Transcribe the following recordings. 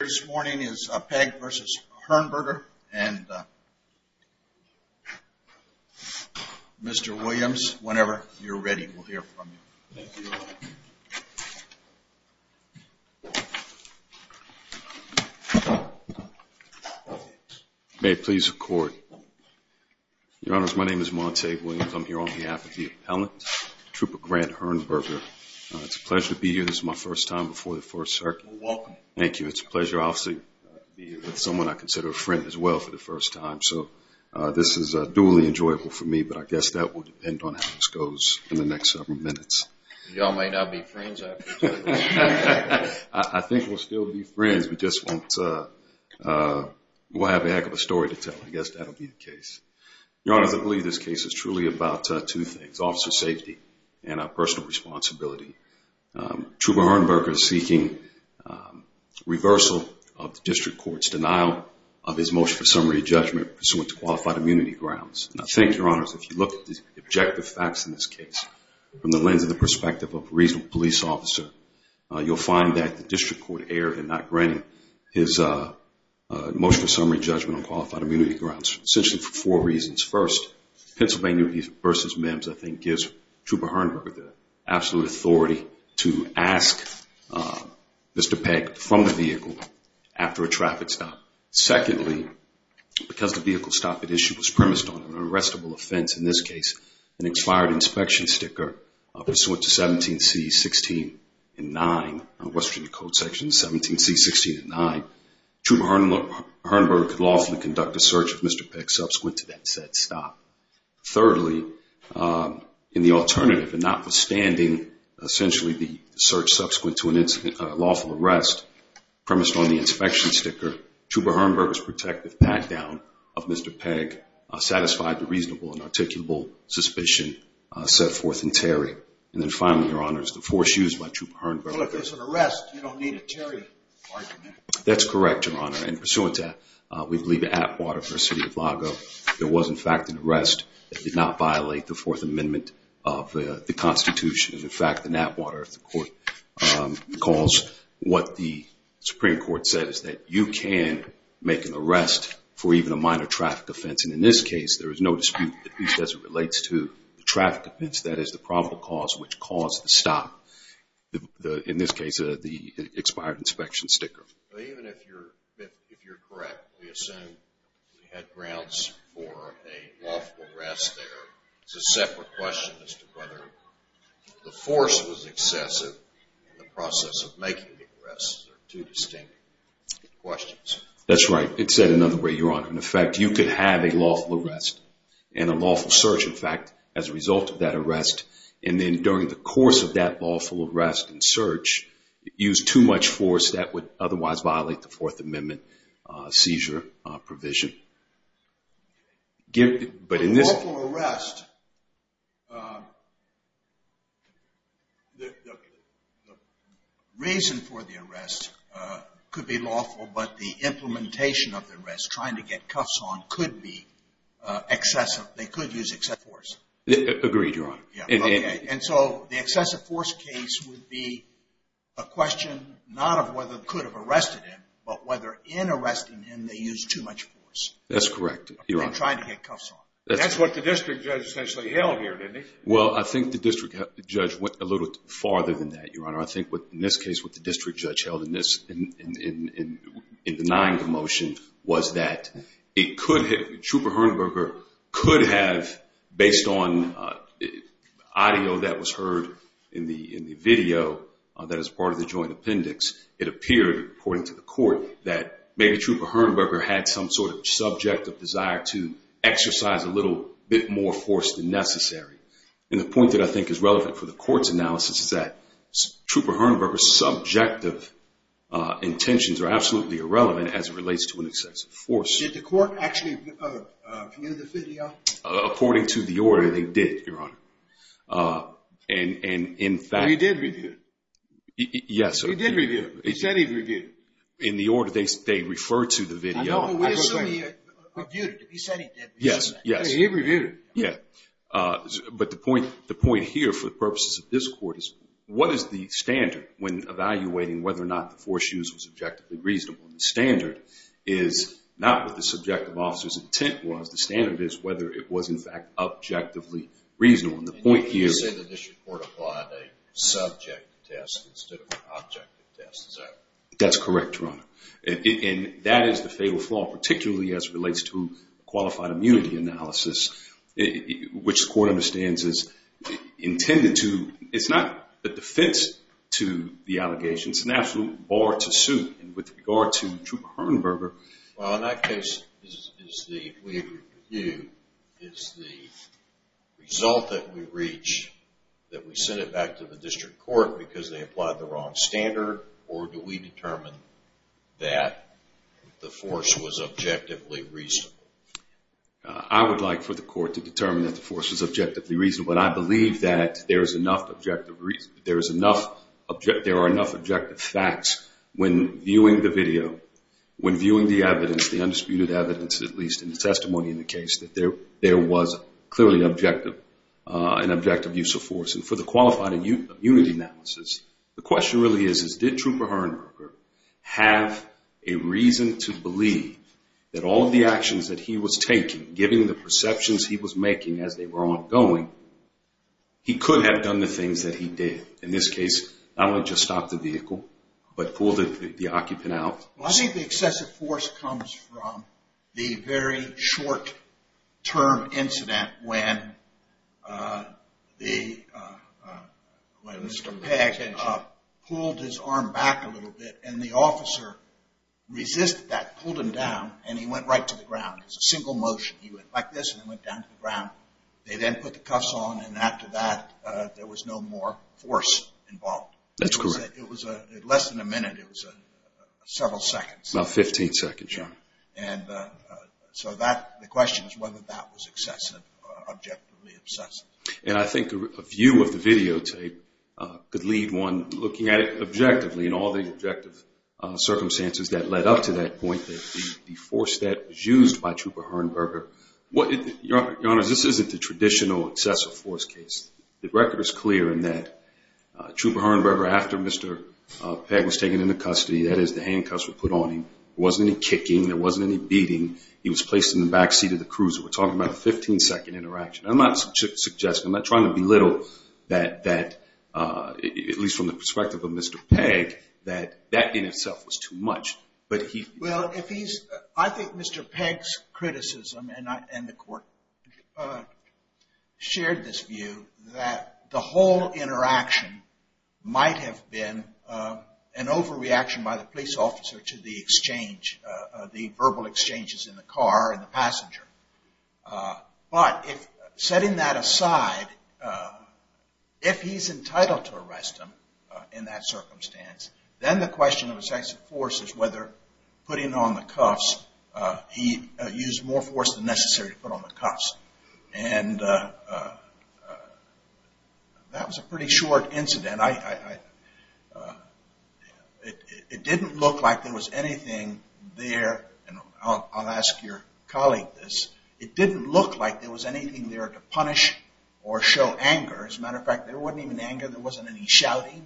This morning is Pegg v. Herrnberger and Mr. Williams, whenever you're ready, we'll hear from you. Thank you, Your Honor. May it please the Court. Your Honor, my name is Montague Williams. I'm here on behalf of the appellant, Trooper Grant Herrnberger. It's a pleasure to be here. This is my first time before the First Circuit. You're welcome. Thank you. It's a pleasure, obviously, to be here with someone I consider a friend as well for the first time. So this is duly enjoyable for me, but I guess that will depend on how this goes in the next several minutes. You all may not be friends, I presume. I think we'll still be friends. We just won't have a heck of a story to tell. I guess that'll be the case. Your Honor, I believe this case is truly about two things, officer safety and personal responsibility. Trooper Herrnberger is seeking reversal of the district court's denial of his motion for summary judgment pursuant to Qualified Immunity Grounds. I think, Your Honor, if you look at the objective facts in this case from the lens of the perspective of a reasonable police officer, you'll find that the district court erred in not granting his motion for summary judgment on Qualified Immunity Grounds, essentially for four reasons. First, Pennsylvania v. Mims, I think, gives Trooper Herrnberger the absolute authority to ask Mr. Peck from the vehicle after a traffic stop. Secondly, because the vehicle stop at issue was premised on an unrestable offense, in this case, an expired inspection sticker pursuant to 17C.16.9, Western Code section 17C.16.9, Trooper Herrnberger could lawfully conduct a search of Mr. Peck subsequent to that said stop. Thirdly, in the alternative, and notwithstanding, essentially, the search subsequent to a lawful arrest premised on the inspection sticker, Trooper Herrnberger's protective pat-down of Mr. Peck satisfied the reasonable and articulable suspicion set forth in Terry. And then finally, Your Honor, it's the force used by Trooper Herrnberger. Well, if it's an arrest, you don't need a Terry argument. That's correct, Your Honor. And pursuant to that, we believe in Atwater v. City of Lago, there was, in fact, an arrest that did not violate the Fourth Amendment of the Constitution. In fact, in Atwater, the court calls what the Supreme Court said is that you can make an arrest for even a minor traffic offense. And in this case, there is no dispute, at least as it relates to the traffic offense, that is the probable cause which caused the stop. In this case, the expired inspection sticker. Even if you're correct, we assume we had grounds for a lawful arrest there. It's a separate question as to whether the force was excessive in the process of making the arrest. They're two distinct questions. That's right. It's said another way, Your Honor. In fact, you could have a lawful arrest and a lawful search, in fact, as a result of that arrest. And then during the course of that lawful arrest and search, use too much force. That would otherwise violate the Fourth Amendment seizure provision. But in this case… A lawful arrest, the reason for the arrest could be lawful, but the implementation of the arrest, trying to get cuffs on, could be excessive. They could use excessive force. Agreed, Your Honor. And so the excessive force case would be a question not of whether they could have arrested him, but whether in arresting him they used too much force. That's correct, Your Honor. In trying to get cuffs on. That's what the district judge essentially held here, didn't he? Well, I think the district judge went a little farther than that, Your Honor. I think in this case what the district judge held in denying the motion was that it could have… Trouper-Hernberger could have, based on audio that was heard in the video that is part of the joint appendix, it appeared, according to the court, that maybe Trouper-Hernberger had some sort of subject of desire to exercise a little bit more force than necessary. And the point that I think is relevant for the court's analysis is that Trouper-Hernberger's subjective intentions are absolutely irrelevant as it relates to an excessive force. Did the court actually view the video? According to the order, they did, Your Honor. And in fact… He did review it. Yes. He did review it. He said he reviewed it. In the order, they referred to the video. I don't know whether he reviewed it. He said he did. Yes, yes. He reviewed it. Yes. But the point here, for the purposes of this court, is what is the standard when evaluating whether or not the force used was objectively reasonable? The standard is not what the subjective officer's intent was. The standard is whether it was, in fact, objectively reasonable. And the point here… You're saying that this report applied a subject test instead of an objective test, is that right? That's correct, Your Honor. And that is the fatal flaw, particularly as it relates to qualified immunity analysis, which the court understands is intended to… It's not a defense to the allegations. It's an absolute bar to suit. And with regard to Trouper-Hernberger… Is the result that we reach, that we send it back to the district court because they applied the wrong standard, or do we determine that the force was objectively reasonable? I would like for the court to determine that the force was objectively reasonable. But I believe that there are enough objective facts when viewing the video, when viewing the evidence, the undisputed evidence, at least in the testimony in the case, that there was clearly an objective use of force. And for the qualified immunity analysis, the question really is did Trouper-Hernberger have a reason to believe that all of the actions that he was taking, given the perceptions he was making as they were ongoing, he could have done the things that he did? In this case, not only just stop the vehicle, but pull the occupant out? Well, I think the excessive force comes from the very short-term incident when Mr. Peck pulled his arm back a little bit, and the officer resisted that, pulled him down, and he went right to the ground. It was a single motion. He went like this and went down to the ground. They then put the cuffs on, and after that, there was no more force involved. That's correct. It was less than a minute. It was several seconds. About 15 seconds. Yeah. And so the question is whether that was excessive, objectively excessive. And I think a view of the videotape could lead one looking at it objectively and all the objective circumstances that led up to that point, that the force that was used by Trouper-Hernberger. Your Honor, this isn't the traditional excessive force case. The record is clear in that Trouper-Hernberger, after Mr. Peck was taken into custody, that is the handcuffs were put on him, there wasn't any kicking, there wasn't any beating, he was placed in the back seat of the cruiser. We're talking about a 15-second interaction. I'm not suggesting, I'm not trying to belittle that, at least from the perspective of Mr. Peck, that that in itself was too much. Well, I think Mr. Peck's criticism, and the Court shared this view, that the whole interaction might have been an overreaction by the police officer to the exchange, the verbal exchanges in the car and the passenger. But, setting that aside, if he's entitled to arrest him in that circumstance, then the question of excessive force is whether putting on the cuffs, he used more force than necessary to put on the cuffs. And that was a pretty short incident. It didn't look like there was anything there, and I'll ask your colleague this, it didn't look like there was anything there to punish or show anger. As a matter of fact, there wasn't even anger, there wasn't any shouting.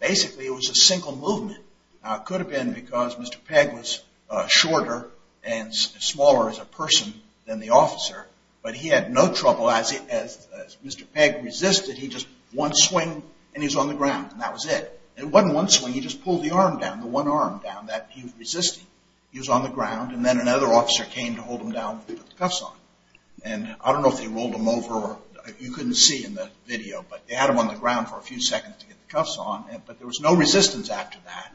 Basically, it was a single movement. Now, it could have been because Mr. Peck was shorter and smaller as a person than the officer, but he had no trouble as Mr. Peck resisted. He just, one swing, and he was on the ground, and that was it. It wasn't one swing, he just pulled the arm down, the one arm down that he was resisting. He was on the ground, and then another officer came to hold him down and put the cuffs on. And I don't know if they rolled him over, you couldn't see in the video, but they had him on the ground for a few seconds to get the cuffs on, but there was no resistance after that,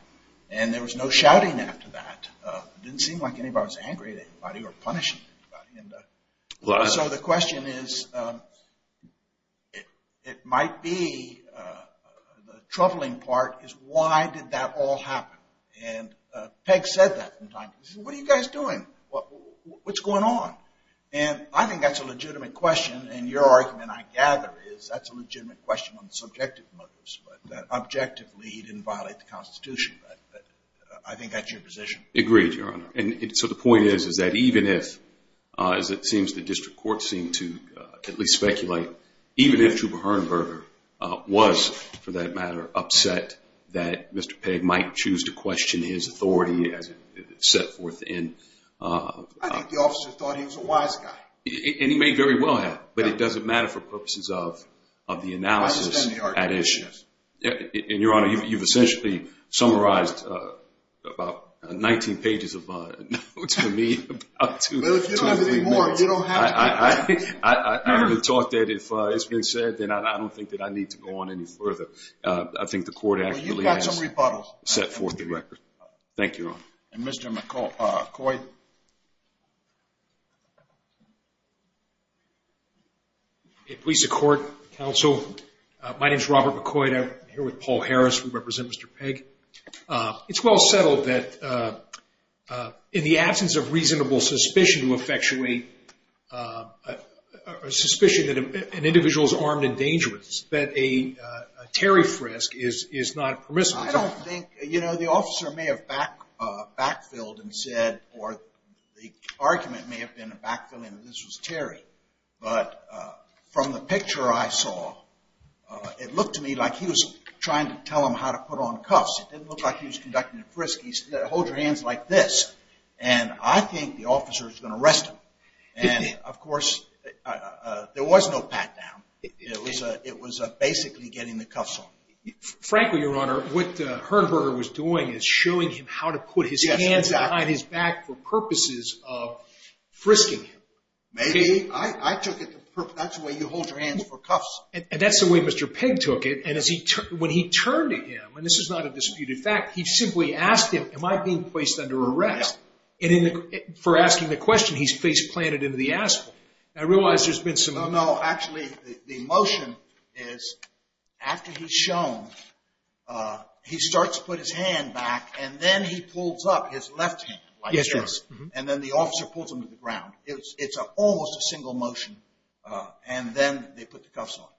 and there was no shouting after that. It didn't seem like anybody was angry at anybody or punishing anybody. So the question is, it might be the troubling part is why did that all happen? And Peck said that sometimes. He said, what are you guys doing? What's going on? And I think that's a legitimate question, and your argument, I gather, is that's a legitimate question on the subjective motives, but objectively he didn't violate the Constitution. But I think that's your position. Agreed, Your Honor. And so the point is, is that even if, as it seems the district courts seem to at least speculate, even if Trouba Hernberger was, for that matter, upset that Mr. Peck might choose to question his authority as it's set forth in... I think the officers thought he was a wise guy. And he may very well have, but it doesn't matter for purposes of the analysis at issue. And, Your Honor, you've essentially summarized about 19 pages of notes for me. Well, if you don't have anything more, you don't have to. I've been taught that if it's been said, then I don't think that I need to go on any further. I think the court actually has set forth the record. And Mr. McCoy. Please support, counsel. My name is Robert McCoy. I'm here with Paul Harris. We represent Mr. Peck. It's well settled that in the absence of reasonable suspicion to effectuate a suspicion that an individual is armed and dangerous, that a tariff risk is not permissible. I don't think... The argument may have been a backfilling that this was Terry. But from the picture I saw, it looked to me like he was trying to tell him how to put on cuffs. It didn't look like he was conducting a frisk. He said, hold your hands like this. And I think the officer is going to arrest him. And, of course, there was no pat-down. It was basically getting the cuffs on him. Frankly, Your Honor, what Hernberger was doing is showing him how to put his hands behind his back for purposes of frisking him. Maybe. I took it. That's the way you hold your hands for cuffs. And that's the way Mr. Peck took it. And when he turned to him, and this is not a disputed fact, he simply asked him, am I being placed under arrest? And for asking the question, he's face-planted into the asphalt. I realize there's been some... He starts to put his hand back, and then he pulls up his left hand. Yes, Your Honor. And then the officer pulls him to the ground. It's almost a single motion, and then they put the cuffs on him.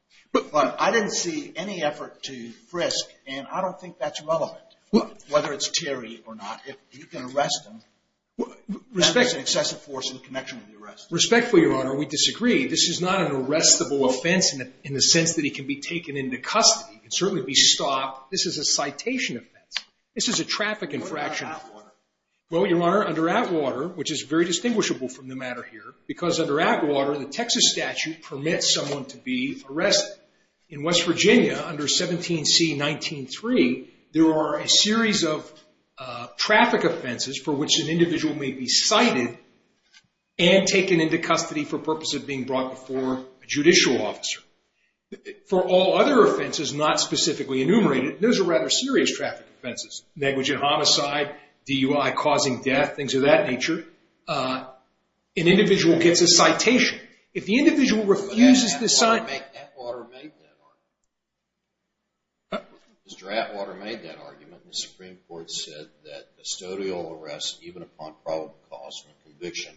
But I didn't see any effort to frisk, and I don't think that's relevant, whether it's Terry or not. You can arrest him. Respectfully, Your Honor, we disagree. This is not an arrestable offense in the sense that he can be taken into custody. He can certainly be stopped. This is a citation offense. This is a traffic infraction. What about Atwater? Well, Your Honor, under Atwater, which is very distinguishable from the matter here, because under Atwater, the Texas statute permits someone to be arrested. In West Virginia, under 17C.19.3, there are a series of traffic offenses for which an individual may be cited and taken into custody for purpose of being brought before a judicial officer. For all other offenses, not specifically enumerated, those are rather serious traffic offenses, negligent homicide, DUI, causing death, things of that nature. An individual gets a citation. If the individual refuses the citation. But Atwater made that argument. Mr. Atwater made that argument. The Supreme Court said that custodial arrest, even upon probable cause and conviction,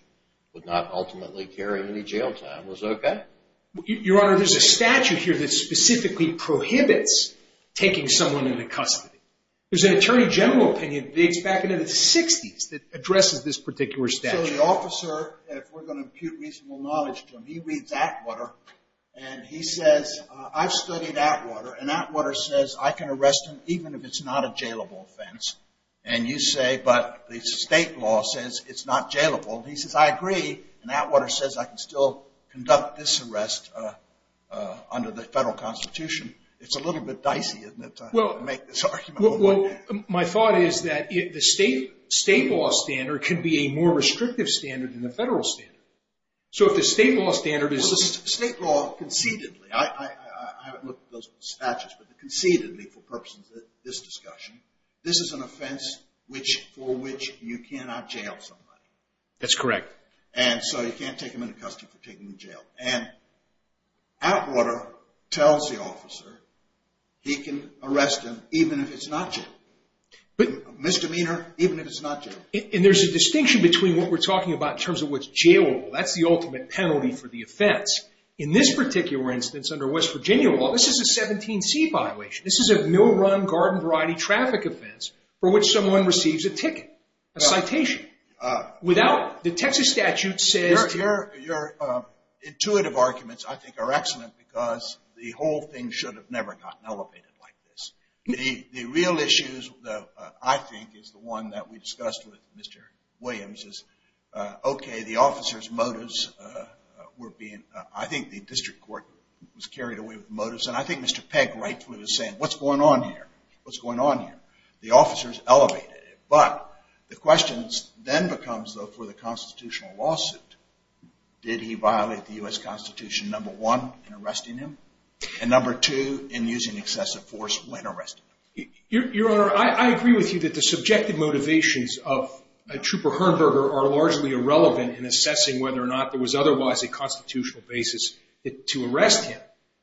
would not ultimately carry him into jail time. Was that okay? Your Honor, there's a statute here that specifically prohibits taking someone into custody. There's an attorney general opinion that dates back into the 60s that addresses this particular statute. So the officer, if we're going to impute reasonable knowledge to him, he reads Atwater, and he says, I've studied Atwater, and Atwater says I can arrest him even if it's not a jailable offense. And you say, but the state law says it's not jailable. And he says, I agree, and Atwater says I can still conduct this arrest under the federal constitution. It's a little bit dicey, isn't it, to make this argument? Well, my thought is that the state law standard can be a more restrictive standard than the federal standard. So if the state law standard is this. State law concededly, I haven't looked at those statutes, but concededly for purposes of this discussion, this is an offense for which you cannot jail somebody. That's correct. And so you can't take him into custody for taking him to jail. And Atwater tells the officer he can arrest him even if it's not jailable. Misdemeanor, even if it's not jailable. And there's a distinction between what we're talking about in terms of what's jailable. That's the ultimate penalty for the offense. In this particular instance, under West Virginia law, this is a 17C violation. This is a mill-run, garden-variety traffic offense for which someone receives a ticket, a citation. Without the Texas statute says. Your intuitive arguments, I think, are excellent because the whole thing should have never gotten elevated like this. The real issues, I think, is the one that we discussed with Mr. Williams is, okay, the officer's motives were being, I think the district court was carried away with the motives. And I think Mr. Pegg rightfully was saying, what's going on here? What's going on here? The officer's elevated it. But the question then becomes, though, for the constitutional lawsuit, did he violate the U.S. Constitution, number one, in arresting him, and number two, in using excessive force when arresting him? Your Honor, I agree with you that the subjective motivations of Trooper Herberger are largely irrelevant in assessing whether or not there was otherwise a constitutional basis to arrest him.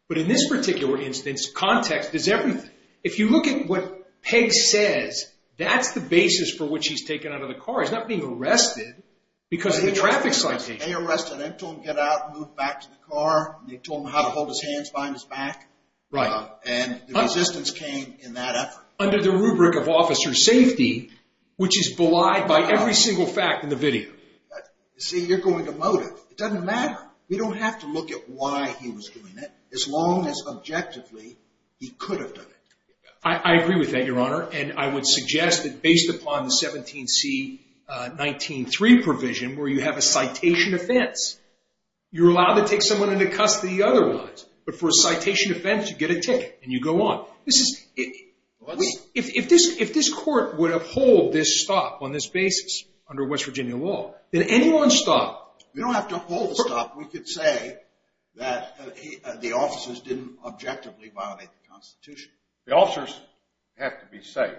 But in this particular instance, context is everything. If you look at what Pegg says, that's the basis for which he's taken out of the car. He's not being arrested because of the traffic citation. They arrested him. They told him to get out and move back to the car. They told him how to hold his hands behind his back. Right. And the resistance came in that effort. Under the rubric of officer safety, which is belied by every single fact in the video. See, you're going to motive. It doesn't matter. We don't have to look at why he was doing it, as long as objectively he could have done it. I agree with that, Your Honor, and I would suggest that based upon the 17C19-3 provision, where you have a citation offense, you're allowed to take someone into custody otherwise. But for a citation offense, you get a ticket and you go on. If this court would uphold this stop on this basis under West Virginia law, then anyone's stop. You don't have to uphold the stop. We could say that the officers didn't objectively violate the Constitution. The officers have to be safe.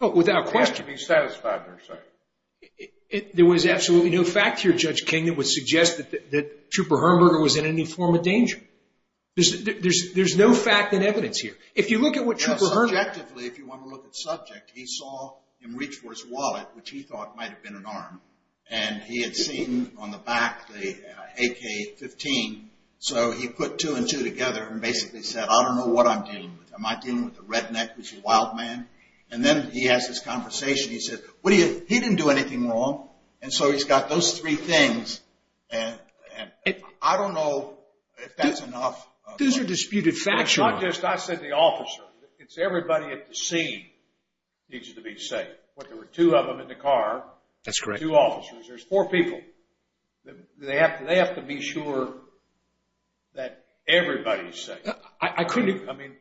Without question. They have to be satisfied they're safe. There was absolutely no fact here, Judge King, that would suggest that Trooper Herberger was in any form of danger. There's no fact and evidence here. If you look at what Trooper Herberger – Subjectively, if you want to look at subject, he saw him reach for his wallet, which he thought might have been an arm, and he had seen on the back the AK-15, so he put two and two together and basically said, I don't know what I'm dealing with. Am I dealing with a redneck, which is a wild man? And then he has this conversation. He said, he didn't do anything wrong, and so he's got those three things. And I don't know if that's enough. Those are disputed facts, Your Honor. It's not just I said the officer. It's everybody at the scene needs to be safe. There were two of them in the car. That's correct. Two officers. There's four people. They have to be sure that everybody's safe. I couldn't – I mean,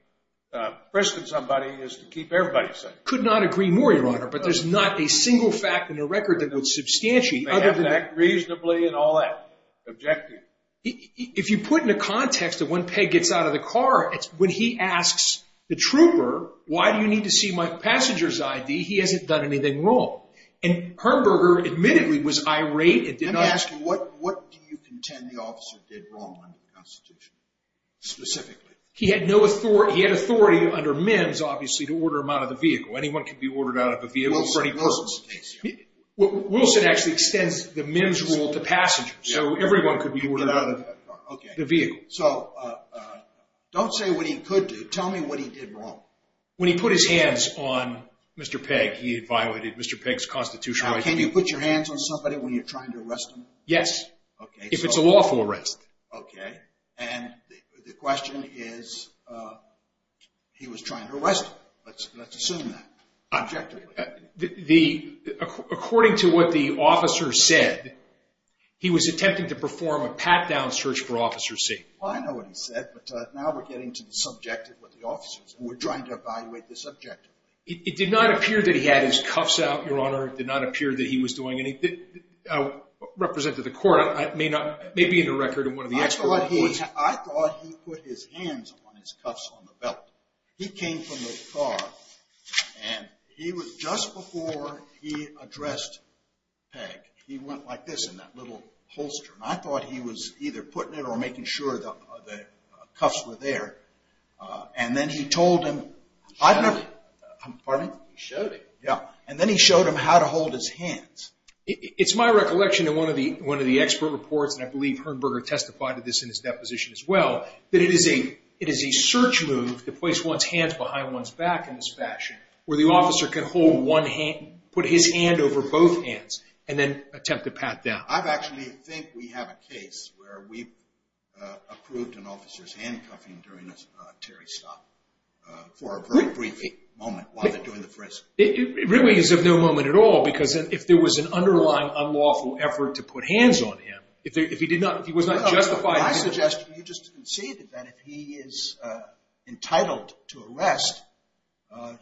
arresting somebody is to keep everybody safe. Could not agree more, Your Honor. But there's not a single fact in the record that would substantiate other than that. They have to act reasonably and all that. Objective. If you put in a context that when Peg gets out of the car, when he asks the trooper, why do you need to see my passenger's ID? He hasn't done anything wrong. And Herberger admittedly was irate and did not – Let me ask you, what do you contend the officer did wrong under the Constitution? Specifically. He had no authority – he had authority under MIMS, obviously, to order him out of the vehicle. Anyone could be ordered out of a vehicle for any purpose. Wilson. Wilson. Wilson actually extends the MIMS rule to passengers. So everyone could be ordered out of the vehicle. Okay. So don't say what he could do. Tell me what he did wrong. When he put his hands on Mr. Peg, he had violated Mr. Peg's constitutional rights. Now, can you put your hands on somebody when you're trying to arrest them? Yes. Okay. If it's a lawful arrest. Okay. And the question is he was trying to arrest him. Let's assume that. Objectively. According to what the officer said, he was attempting to perform a pat-down search for Officer C. Well, I know what he said, but now we're getting to the subjective with the officers. We're trying to evaluate the subjective. It did not appear that he had his cuffs out, Your Honor. It did not appear that he was doing anything. Representative, the court may be in the record and one of the experts. I thought he put his hands on his cuffs on the belt. He came from the car, and just before he addressed Peg, he went like this in that little holster. And I thought he was either putting it or making sure the cuffs were there. And then he told him. He showed him. Pardon me? He showed him. Yeah. And then he showed him how to hold his hands. It's my recollection in one of the expert reports, and I believe Herrnberger testified to this in his deposition as well, that it is a search move to place one's hands behind one's back in this fashion, where the officer can put his hand over both hands and then attempt to pat down. I actually think we have a case where we approved an officer's handcuffing during a Terry stop for a very brief moment while they're doing the frisk. It really is of no moment at all because if there was an underlying unlawful effort to put hands on him, if he was not justified in doing it. No, no. My suggestion, you just conceded that if he is entitled to arrest,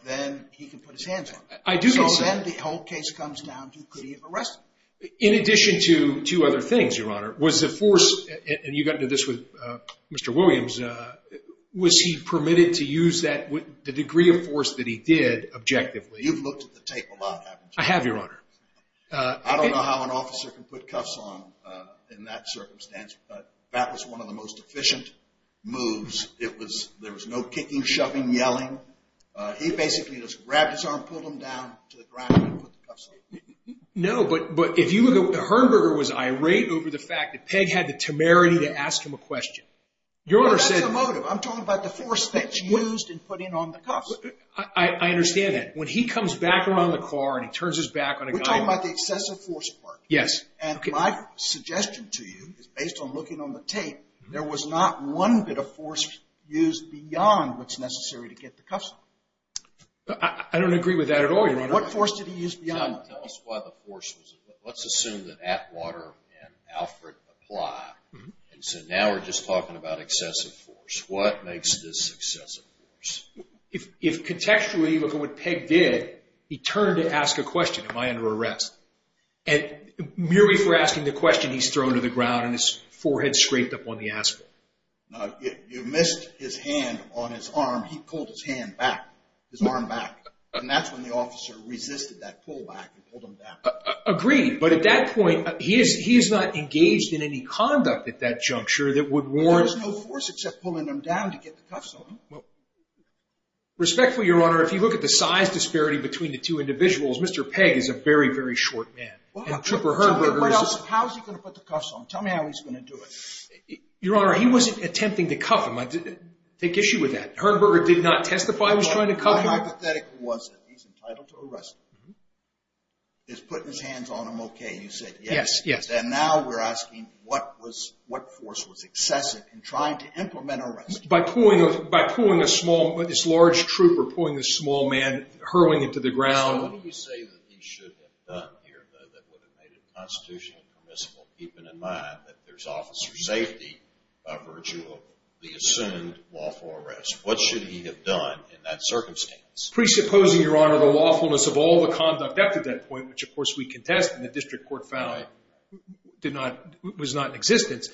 then he can put his hands on him. I do concede. So then the whole case comes down to could he have arrested him? In addition to two other things, Your Honor, was the force, and you got into this with Mr. Williams, was he permitted to use the degree of force that he did objectively? You've looked at the tape a lot, haven't you? I have, Your Honor. I don't know how an officer can put cuffs on in that circumstance, but that was one of the most efficient moves. There was no kicking, shoving, yelling. He basically just grabbed his arm, pulled him down to the ground, and put the cuffs on him. No, but Herberger was irate over the fact that Pegg had the temerity to ask him a question. That's a motive. I'm talking about the force that's used in putting on the cuffs. I understand that. When he comes back around the car and he turns his back on a guy. We're talking about the excessive force part. Yes. And my suggestion to you is based on looking on the tape, there was not one bit of force used beyond what's necessary to get the cuffs on him. I don't agree with that at all, Your Honor. What force did he use beyond that? Tell us why the force was there. Let's assume that Atwater and Alfred apply. So now we're just talking about excessive force. What makes this excessive force? If contextually, look at what Pegg did. He turned to ask a question, am I under arrest? And merely for asking the question, he's thrown to the ground and his forehead's scraped up on the asphalt. You missed his hand on his arm. He pulled his hand back, his arm back. And that's when the officer resisted that pull back and pulled him down. Agreed. But at that point, he is not engaged in any conduct at that juncture that would warrant. There was no force except pulling him down to get the cuffs on him. Respectfully, Your Honor, if you look at the size disparity between the two individuals, Mr. Pegg is a very, very short man. And Trooper Herberger is just. How is he going to put the cuffs on him? Tell me how he's going to do it. Your Honor, he wasn't attempting to cuff him. Take issue with that. Herberger did not testify he was trying to cuff him. My hypothetical was that he's entitled to arrest him. Is putting his hands on him okay? You said yes. Yes, yes. Then now we're asking what force was excessive in trying to implement arrest? By pulling a small, this large trooper, pulling this small man, hurling him to the ground. So what do you say that he should have done here that would have made it constitutionally permissible, keeping in mind that there's officer safety by virtue of the assumed lawful arrest? What should he have done in that circumstance? Presupposing, Your Honor, the lawfulness of all the conduct after that point, which of course we contest and the district court found was not in existence.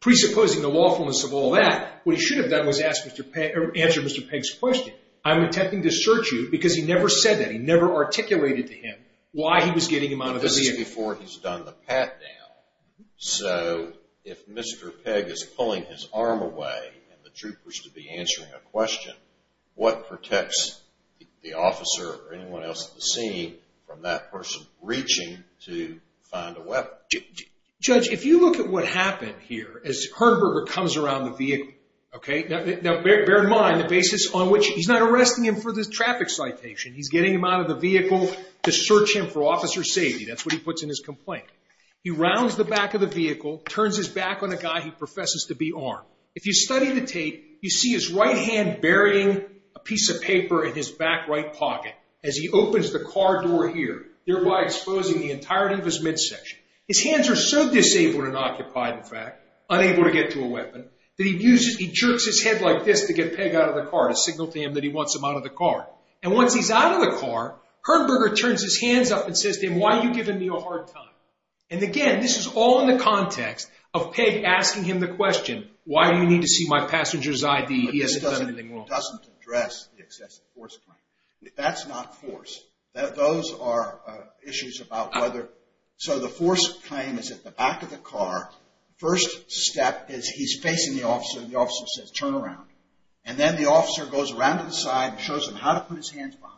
Presupposing the lawfulness of all that, what he should have done was answer Mr. Pegg's question. I'm attempting to search you because he never said that. He never articulated to him why he was getting him out of the vehicle. But this is before he's done the pat down. So if Mr. Pegg is pulling his arm away and the trooper's to be answering a question, what protects the officer or anyone else at the scene from that person reaching to find a weapon? Judge, if you look at what happened here as Herberger comes around the vehicle, okay? Now bear in mind the basis on which he's not arresting him for the traffic citation. He's getting him out of the vehicle to search him for officer safety. That's what he puts in his complaint. He rounds the back of the vehicle, turns his back on the guy he professes to be armed. If you study the tape, you see his right hand burying a piece of paper in his back right pocket as he opens the car door here, thereby exposing the entirety of his midsection. His hands are so disabled and occupied, in fact, unable to get to a weapon, that he jerks his head like this to get Pegg out of the car to signal to him that he wants him out of the car. And once he's out of the car, Herberger turns his hands up and says to him, why are you giving me a hard time? And again, this is all in the context of Pegg asking him the question, why do you need to see my passenger's ID? He hasn't done anything wrong. But this doesn't address the excessive force claim. That's not force. Those are issues about whether – so the force claim is at the back of the car. First step is he's facing the officer and the officer says, turn around. And then the officer goes around to the side and shows him how to put his hands behind.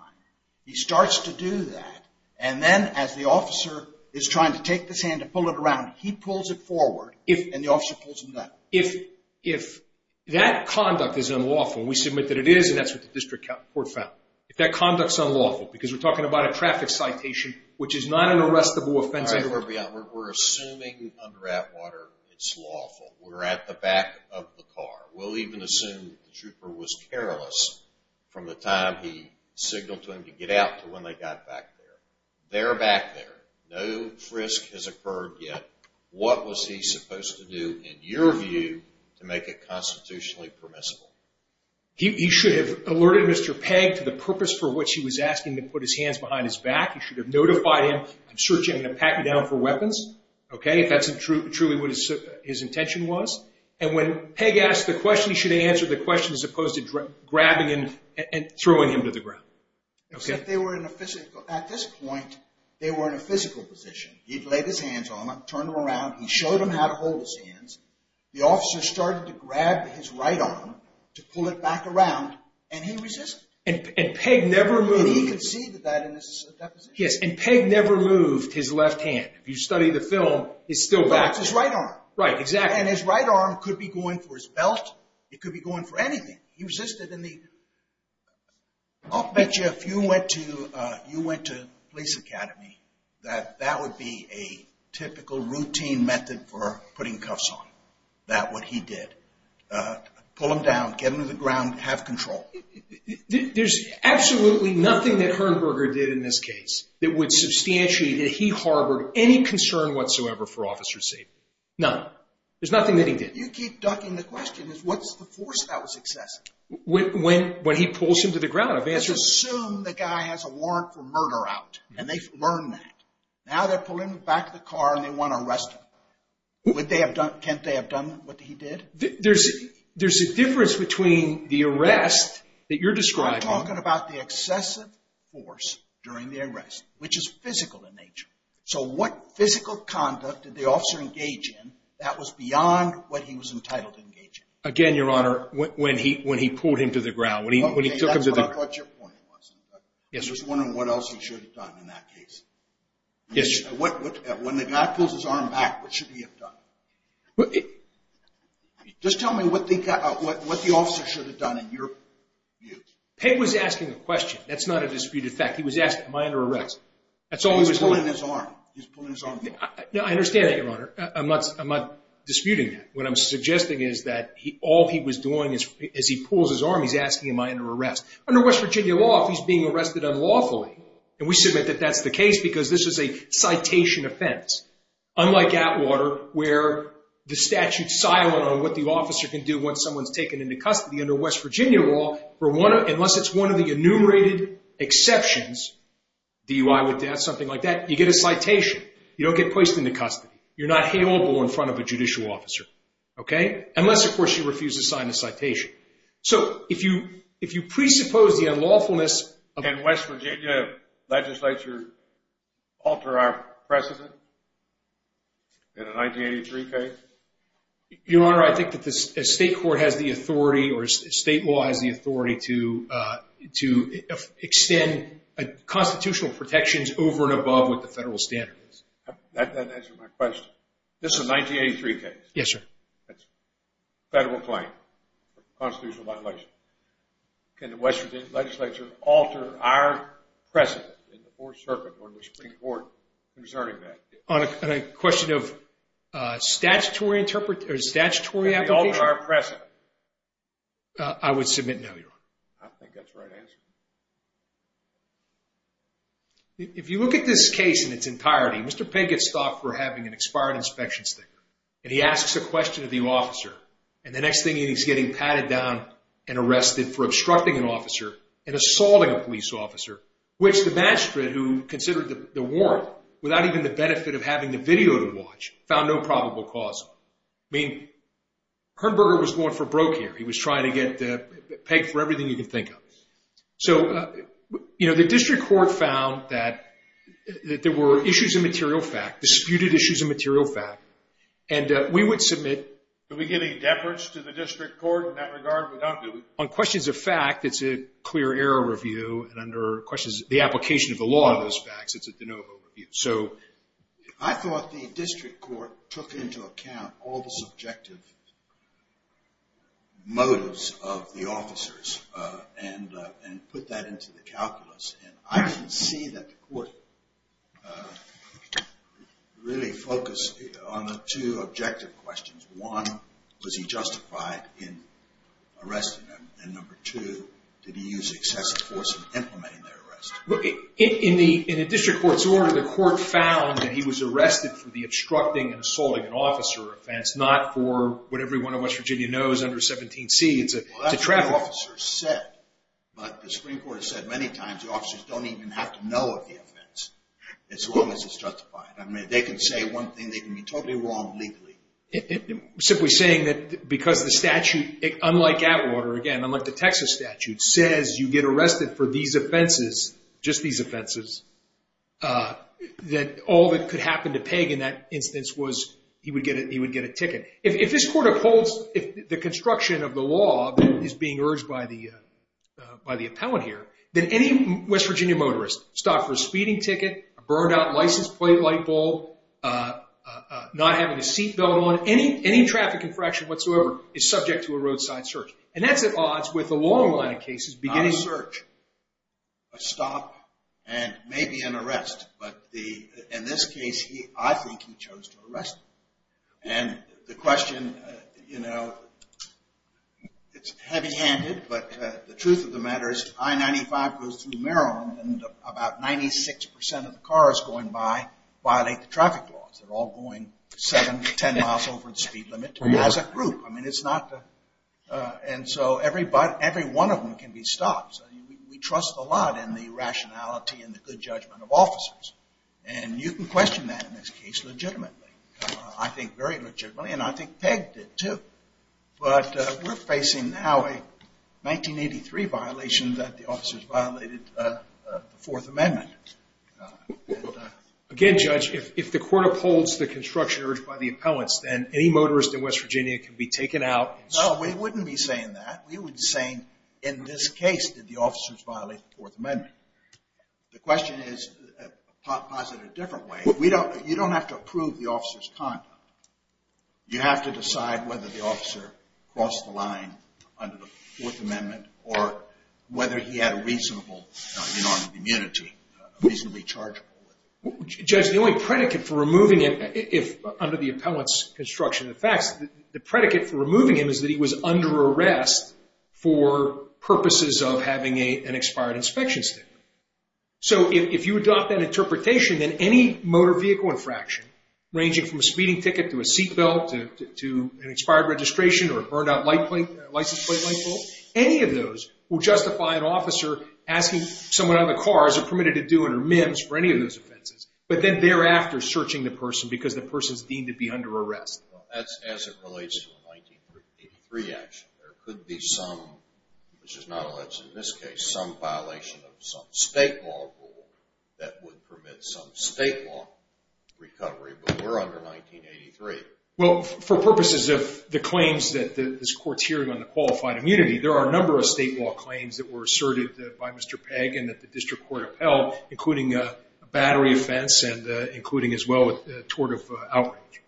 He starts to do that, and then as the officer is trying to take this hand and pull it around, he pulls it forward and the officer pulls him back. If that conduct is unlawful, and we submit that it is, and that's what the district court found, if that conduct is unlawful, because we're talking about a traffic citation, which is not an arrestable offense. All right, Herberger, we're assuming under Atwater it's lawful. We're at the back of the car. We'll even assume that the trooper was careless from the time he signaled to him to get out to when they got back there. They're back there. No frisk has occurred yet. What was he supposed to do, in your view, to make it constitutionally permissible? He should have alerted Mr. Pegg to the purpose for which he was asking to put his hands behind his back. He should have notified him, I'm searching, I'm going to pack you down for weapons, okay, if that's truly what his intention was. And when Pegg asked the question, he should have answered the question, as opposed to grabbing him and throwing him to the ground. At this point, they were in a physical position. He had laid his hands on them, turned them around. He showed them how to hold his hands. The officer started to grab his right arm to pull it back around, and he resisted. And Pegg never moved. And he conceded that in that position. Yes, and Pegg never moved his left hand. If you study the film, he's still back. That's his right arm. Right, exactly. And his right arm could be going for his belt. It could be going for anything. He resisted. I'll bet you if you went to police academy that that would be a typical routine method for putting cuffs on. That's what he did. Pull him down, get him to the ground, have control. There's absolutely nothing that Herberger did in this case that would substantially, that he harbored any concern whatsoever for officer's safety. None. There's nothing that he did. You keep ducking the question. What's the force that was excessive? When he pulls him to the ground, I've answered. Let's assume the guy has a warrant for murder out, and they've learned that. Now they're pulling him back to the car, and they want to arrest him. Can't they have done what he did? There's a difference between the arrest that you're describing. We're talking about the excessive force during the arrest, which is physical in nature. So what physical conduct did the officer engage in that was beyond what he was entitled to engage in? Again, Your Honor, when he pulled him to the ground, when he took him to the ground. Okay, that's what I thought your point was. I'm just wondering what else he should have done in that case. When the guy pulls his arm back, what should he have done? Just tell me what the officer should have done in your view. Peg was asking a question. That's not a disputed fact. He was asking, am I under arrest? He was pulling his arm. He was pulling his arm back. I understand that, Your Honor. I'm not disputing that. What I'm suggesting is that all he was doing as he pulls his arm, he's asking, am I under arrest? Under West Virginia law, if he's being arrested unlawfully, and we submit that that's the case because this is a citation offense, unlike Atwater where the statute's silent on what the officer can do once someone's taken into custody. Under West Virginia law, unless it's one of the enumerated exceptions, DUI with death, something like that, you get a citation. You don't get placed into custody. You're not haleable in front of a judicial officer, unless, of course, you refuse to sign the citation. So if you presuppose the unlawfulness of the statute. Can West Virginia legislature alter our precedent in a 1983 case? Your Honor, I think that the state court has the authority or state law has the authority to extend constitutional protections over and above what the federal standard is. That doesn't answer my question. This is a 1983 case. Yes, sir. That's a federal claim, constitutional violation. Can the West Virginia legislature alter our precedent in the Fourth Circuit or the Supreme Court concerning that? On a question of statutory application? Can we alter our precedent? I would submit no, Your Honor. I think that's the right answer. If you look at this case in its entirety, Mr. Pinkett's stopped for having an expired inspection sticker. And he asks a question of the officer. And the next thing you know, he's getting patted down and arrested for obstructing an officer and assaulting a police officer, which the magistrate, who considered the warrant without even the benefit of having the video to watch, found no probable cause. I mean, Kernberger was going for broke here. He was trying to get pegged for everything you can think of. So, you know, the district court found that there were issues of material fact, disputed issues of material fact. And we would submit. Did we get any deference to the district court in that regard? On questions of fact, it's a clear error review. And under questions of the application of the law of those facts, it's a de novo review. I thought the district court took into account all the subjective motives of the officers and put that into the calculus. And I can see that the court really focused on the two objective questions. One, was he justified in arresting them? And number two, did he use excessive force in implementing their arrest? Look, in the district court's order, the court found that he was arrested for the obstructing and assaulting an officer offense, not for what everyone in West Virginia knows under 17C, it's a traffic. Well, that's what the officer said. But the Supreme Court has said many times the officers don't even have to know of the offense as long as it's justified. I mean, they can say one thing, they can be totally wrong legally. Simply saying that because the statute, unlike Atwater, again, unlike the Texas statute, says you get arrested for these offenses, just these offenses, that all that could happen to Pegg in that instance was he would get a ticket. If this court upholds the construction of the law that is being urged by the appellant here, then any West Virginia motorist stopped for a speeding ticket, a burned out license plate light bulb, not having a seat belt on, any traffic infraction whatsoever is subject to a roadside search. And that's at odds with the long line of cases beginning... Not a search, a stop, and maybe an arrest. But in this case, I think he chose to arrest them. And the question, you know, it's heavy handed, but the truth of the matter is I-95 goes through Maryland and about 96% of the cars going by violate the traffic laws. They're all going 7 to 10 miles over the speed limit as a group. I mean, it's not... And so every one of them can be stopped. We trust a lot in the rationality and the good judgment of officers. And you can question that in this case legitimately. I think very legitimately, and I think Pegg did, too. But we're facing now a 1983 violation that the officers violated the Fourth Amendment. Again, Judge, if the court upholds the construction urged by the appellants, then any motorist in West Virginia can be taken out... No, we wouldn't be saying that. We would be saying, in this case, did the officers violate the Fourth Amendment? The question is posited a different way. You don't have to approve the officer's conduct. You have to decide whether the officer crossed the line under the Fourth Amendment or whether he had a reasonable amount of immunity, reasonably chargeable. Judge, the only predicate for removing him under the appellant's construction of the facts, the predicate for removing him is that he was under arrest for purposes of having an expired inspection statement. So if you adopt that interpretation, then any motor vehicle infraction, ranging from a speeding ticket to a seat belt to an expired registration or a burned-out license plate light bulb, any of those will justify an officer asking someone on the car, as they're permitted to do under MIMS, for any of those offenses, but then thereafter searching the person because the person's deemed to be under arrest. As it relates to the 1983 action, there could be some, which is not alleged in this case, some violation of some state law rule that would permit some state law recovery, but we're under 1983. Well, for purposes of the claims that this Court's hearing on the qualified immunity, there are a number of state law claims that were asserted by Mr. Pegg and that the district court upheld, including a battery offense and including as well a tort of outrage.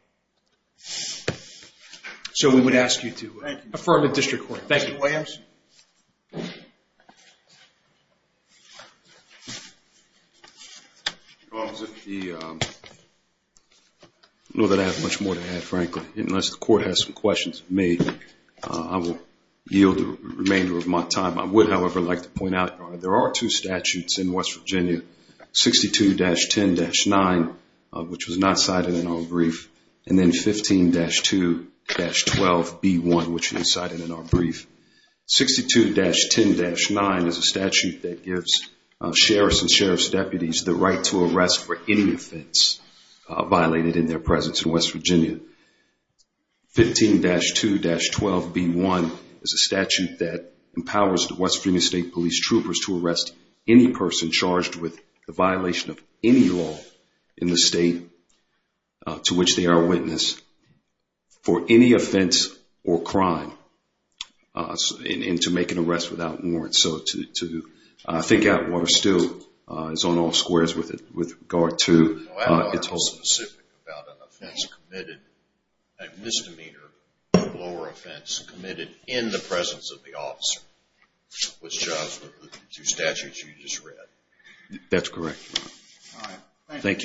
So we would ask you to affirm the district court. Thank you. Mr. Williams? I don't know that I have much more to add, frankly, unless the Court has some questions for me. I will yield the remainder of my time. I would, however, like to point out there are two statutes in West Virginia, 62-10-9, which was not cited in our brief, and then 15-2-12-B1, which was cited in our brief. 62-10-9 is a statute that gives sheriffs and sheriff's deputies the right to arrest for any offense violated in their presence in West Virginia. 15-2-12-B1 is a statute that empowers the West Virginia State Police troopers to arrest any person charged with a violation of any law in the state, to which they are a witness, for any offense or crime, and to make an arrest without warrant. So to think out what are still is on all squares with regard to its holdings. I don't know anything specific about an offense committed, a misdemeanor or lower offense committed in the presence of the officer, which are the two statutes you just read. That's correct. Thank you.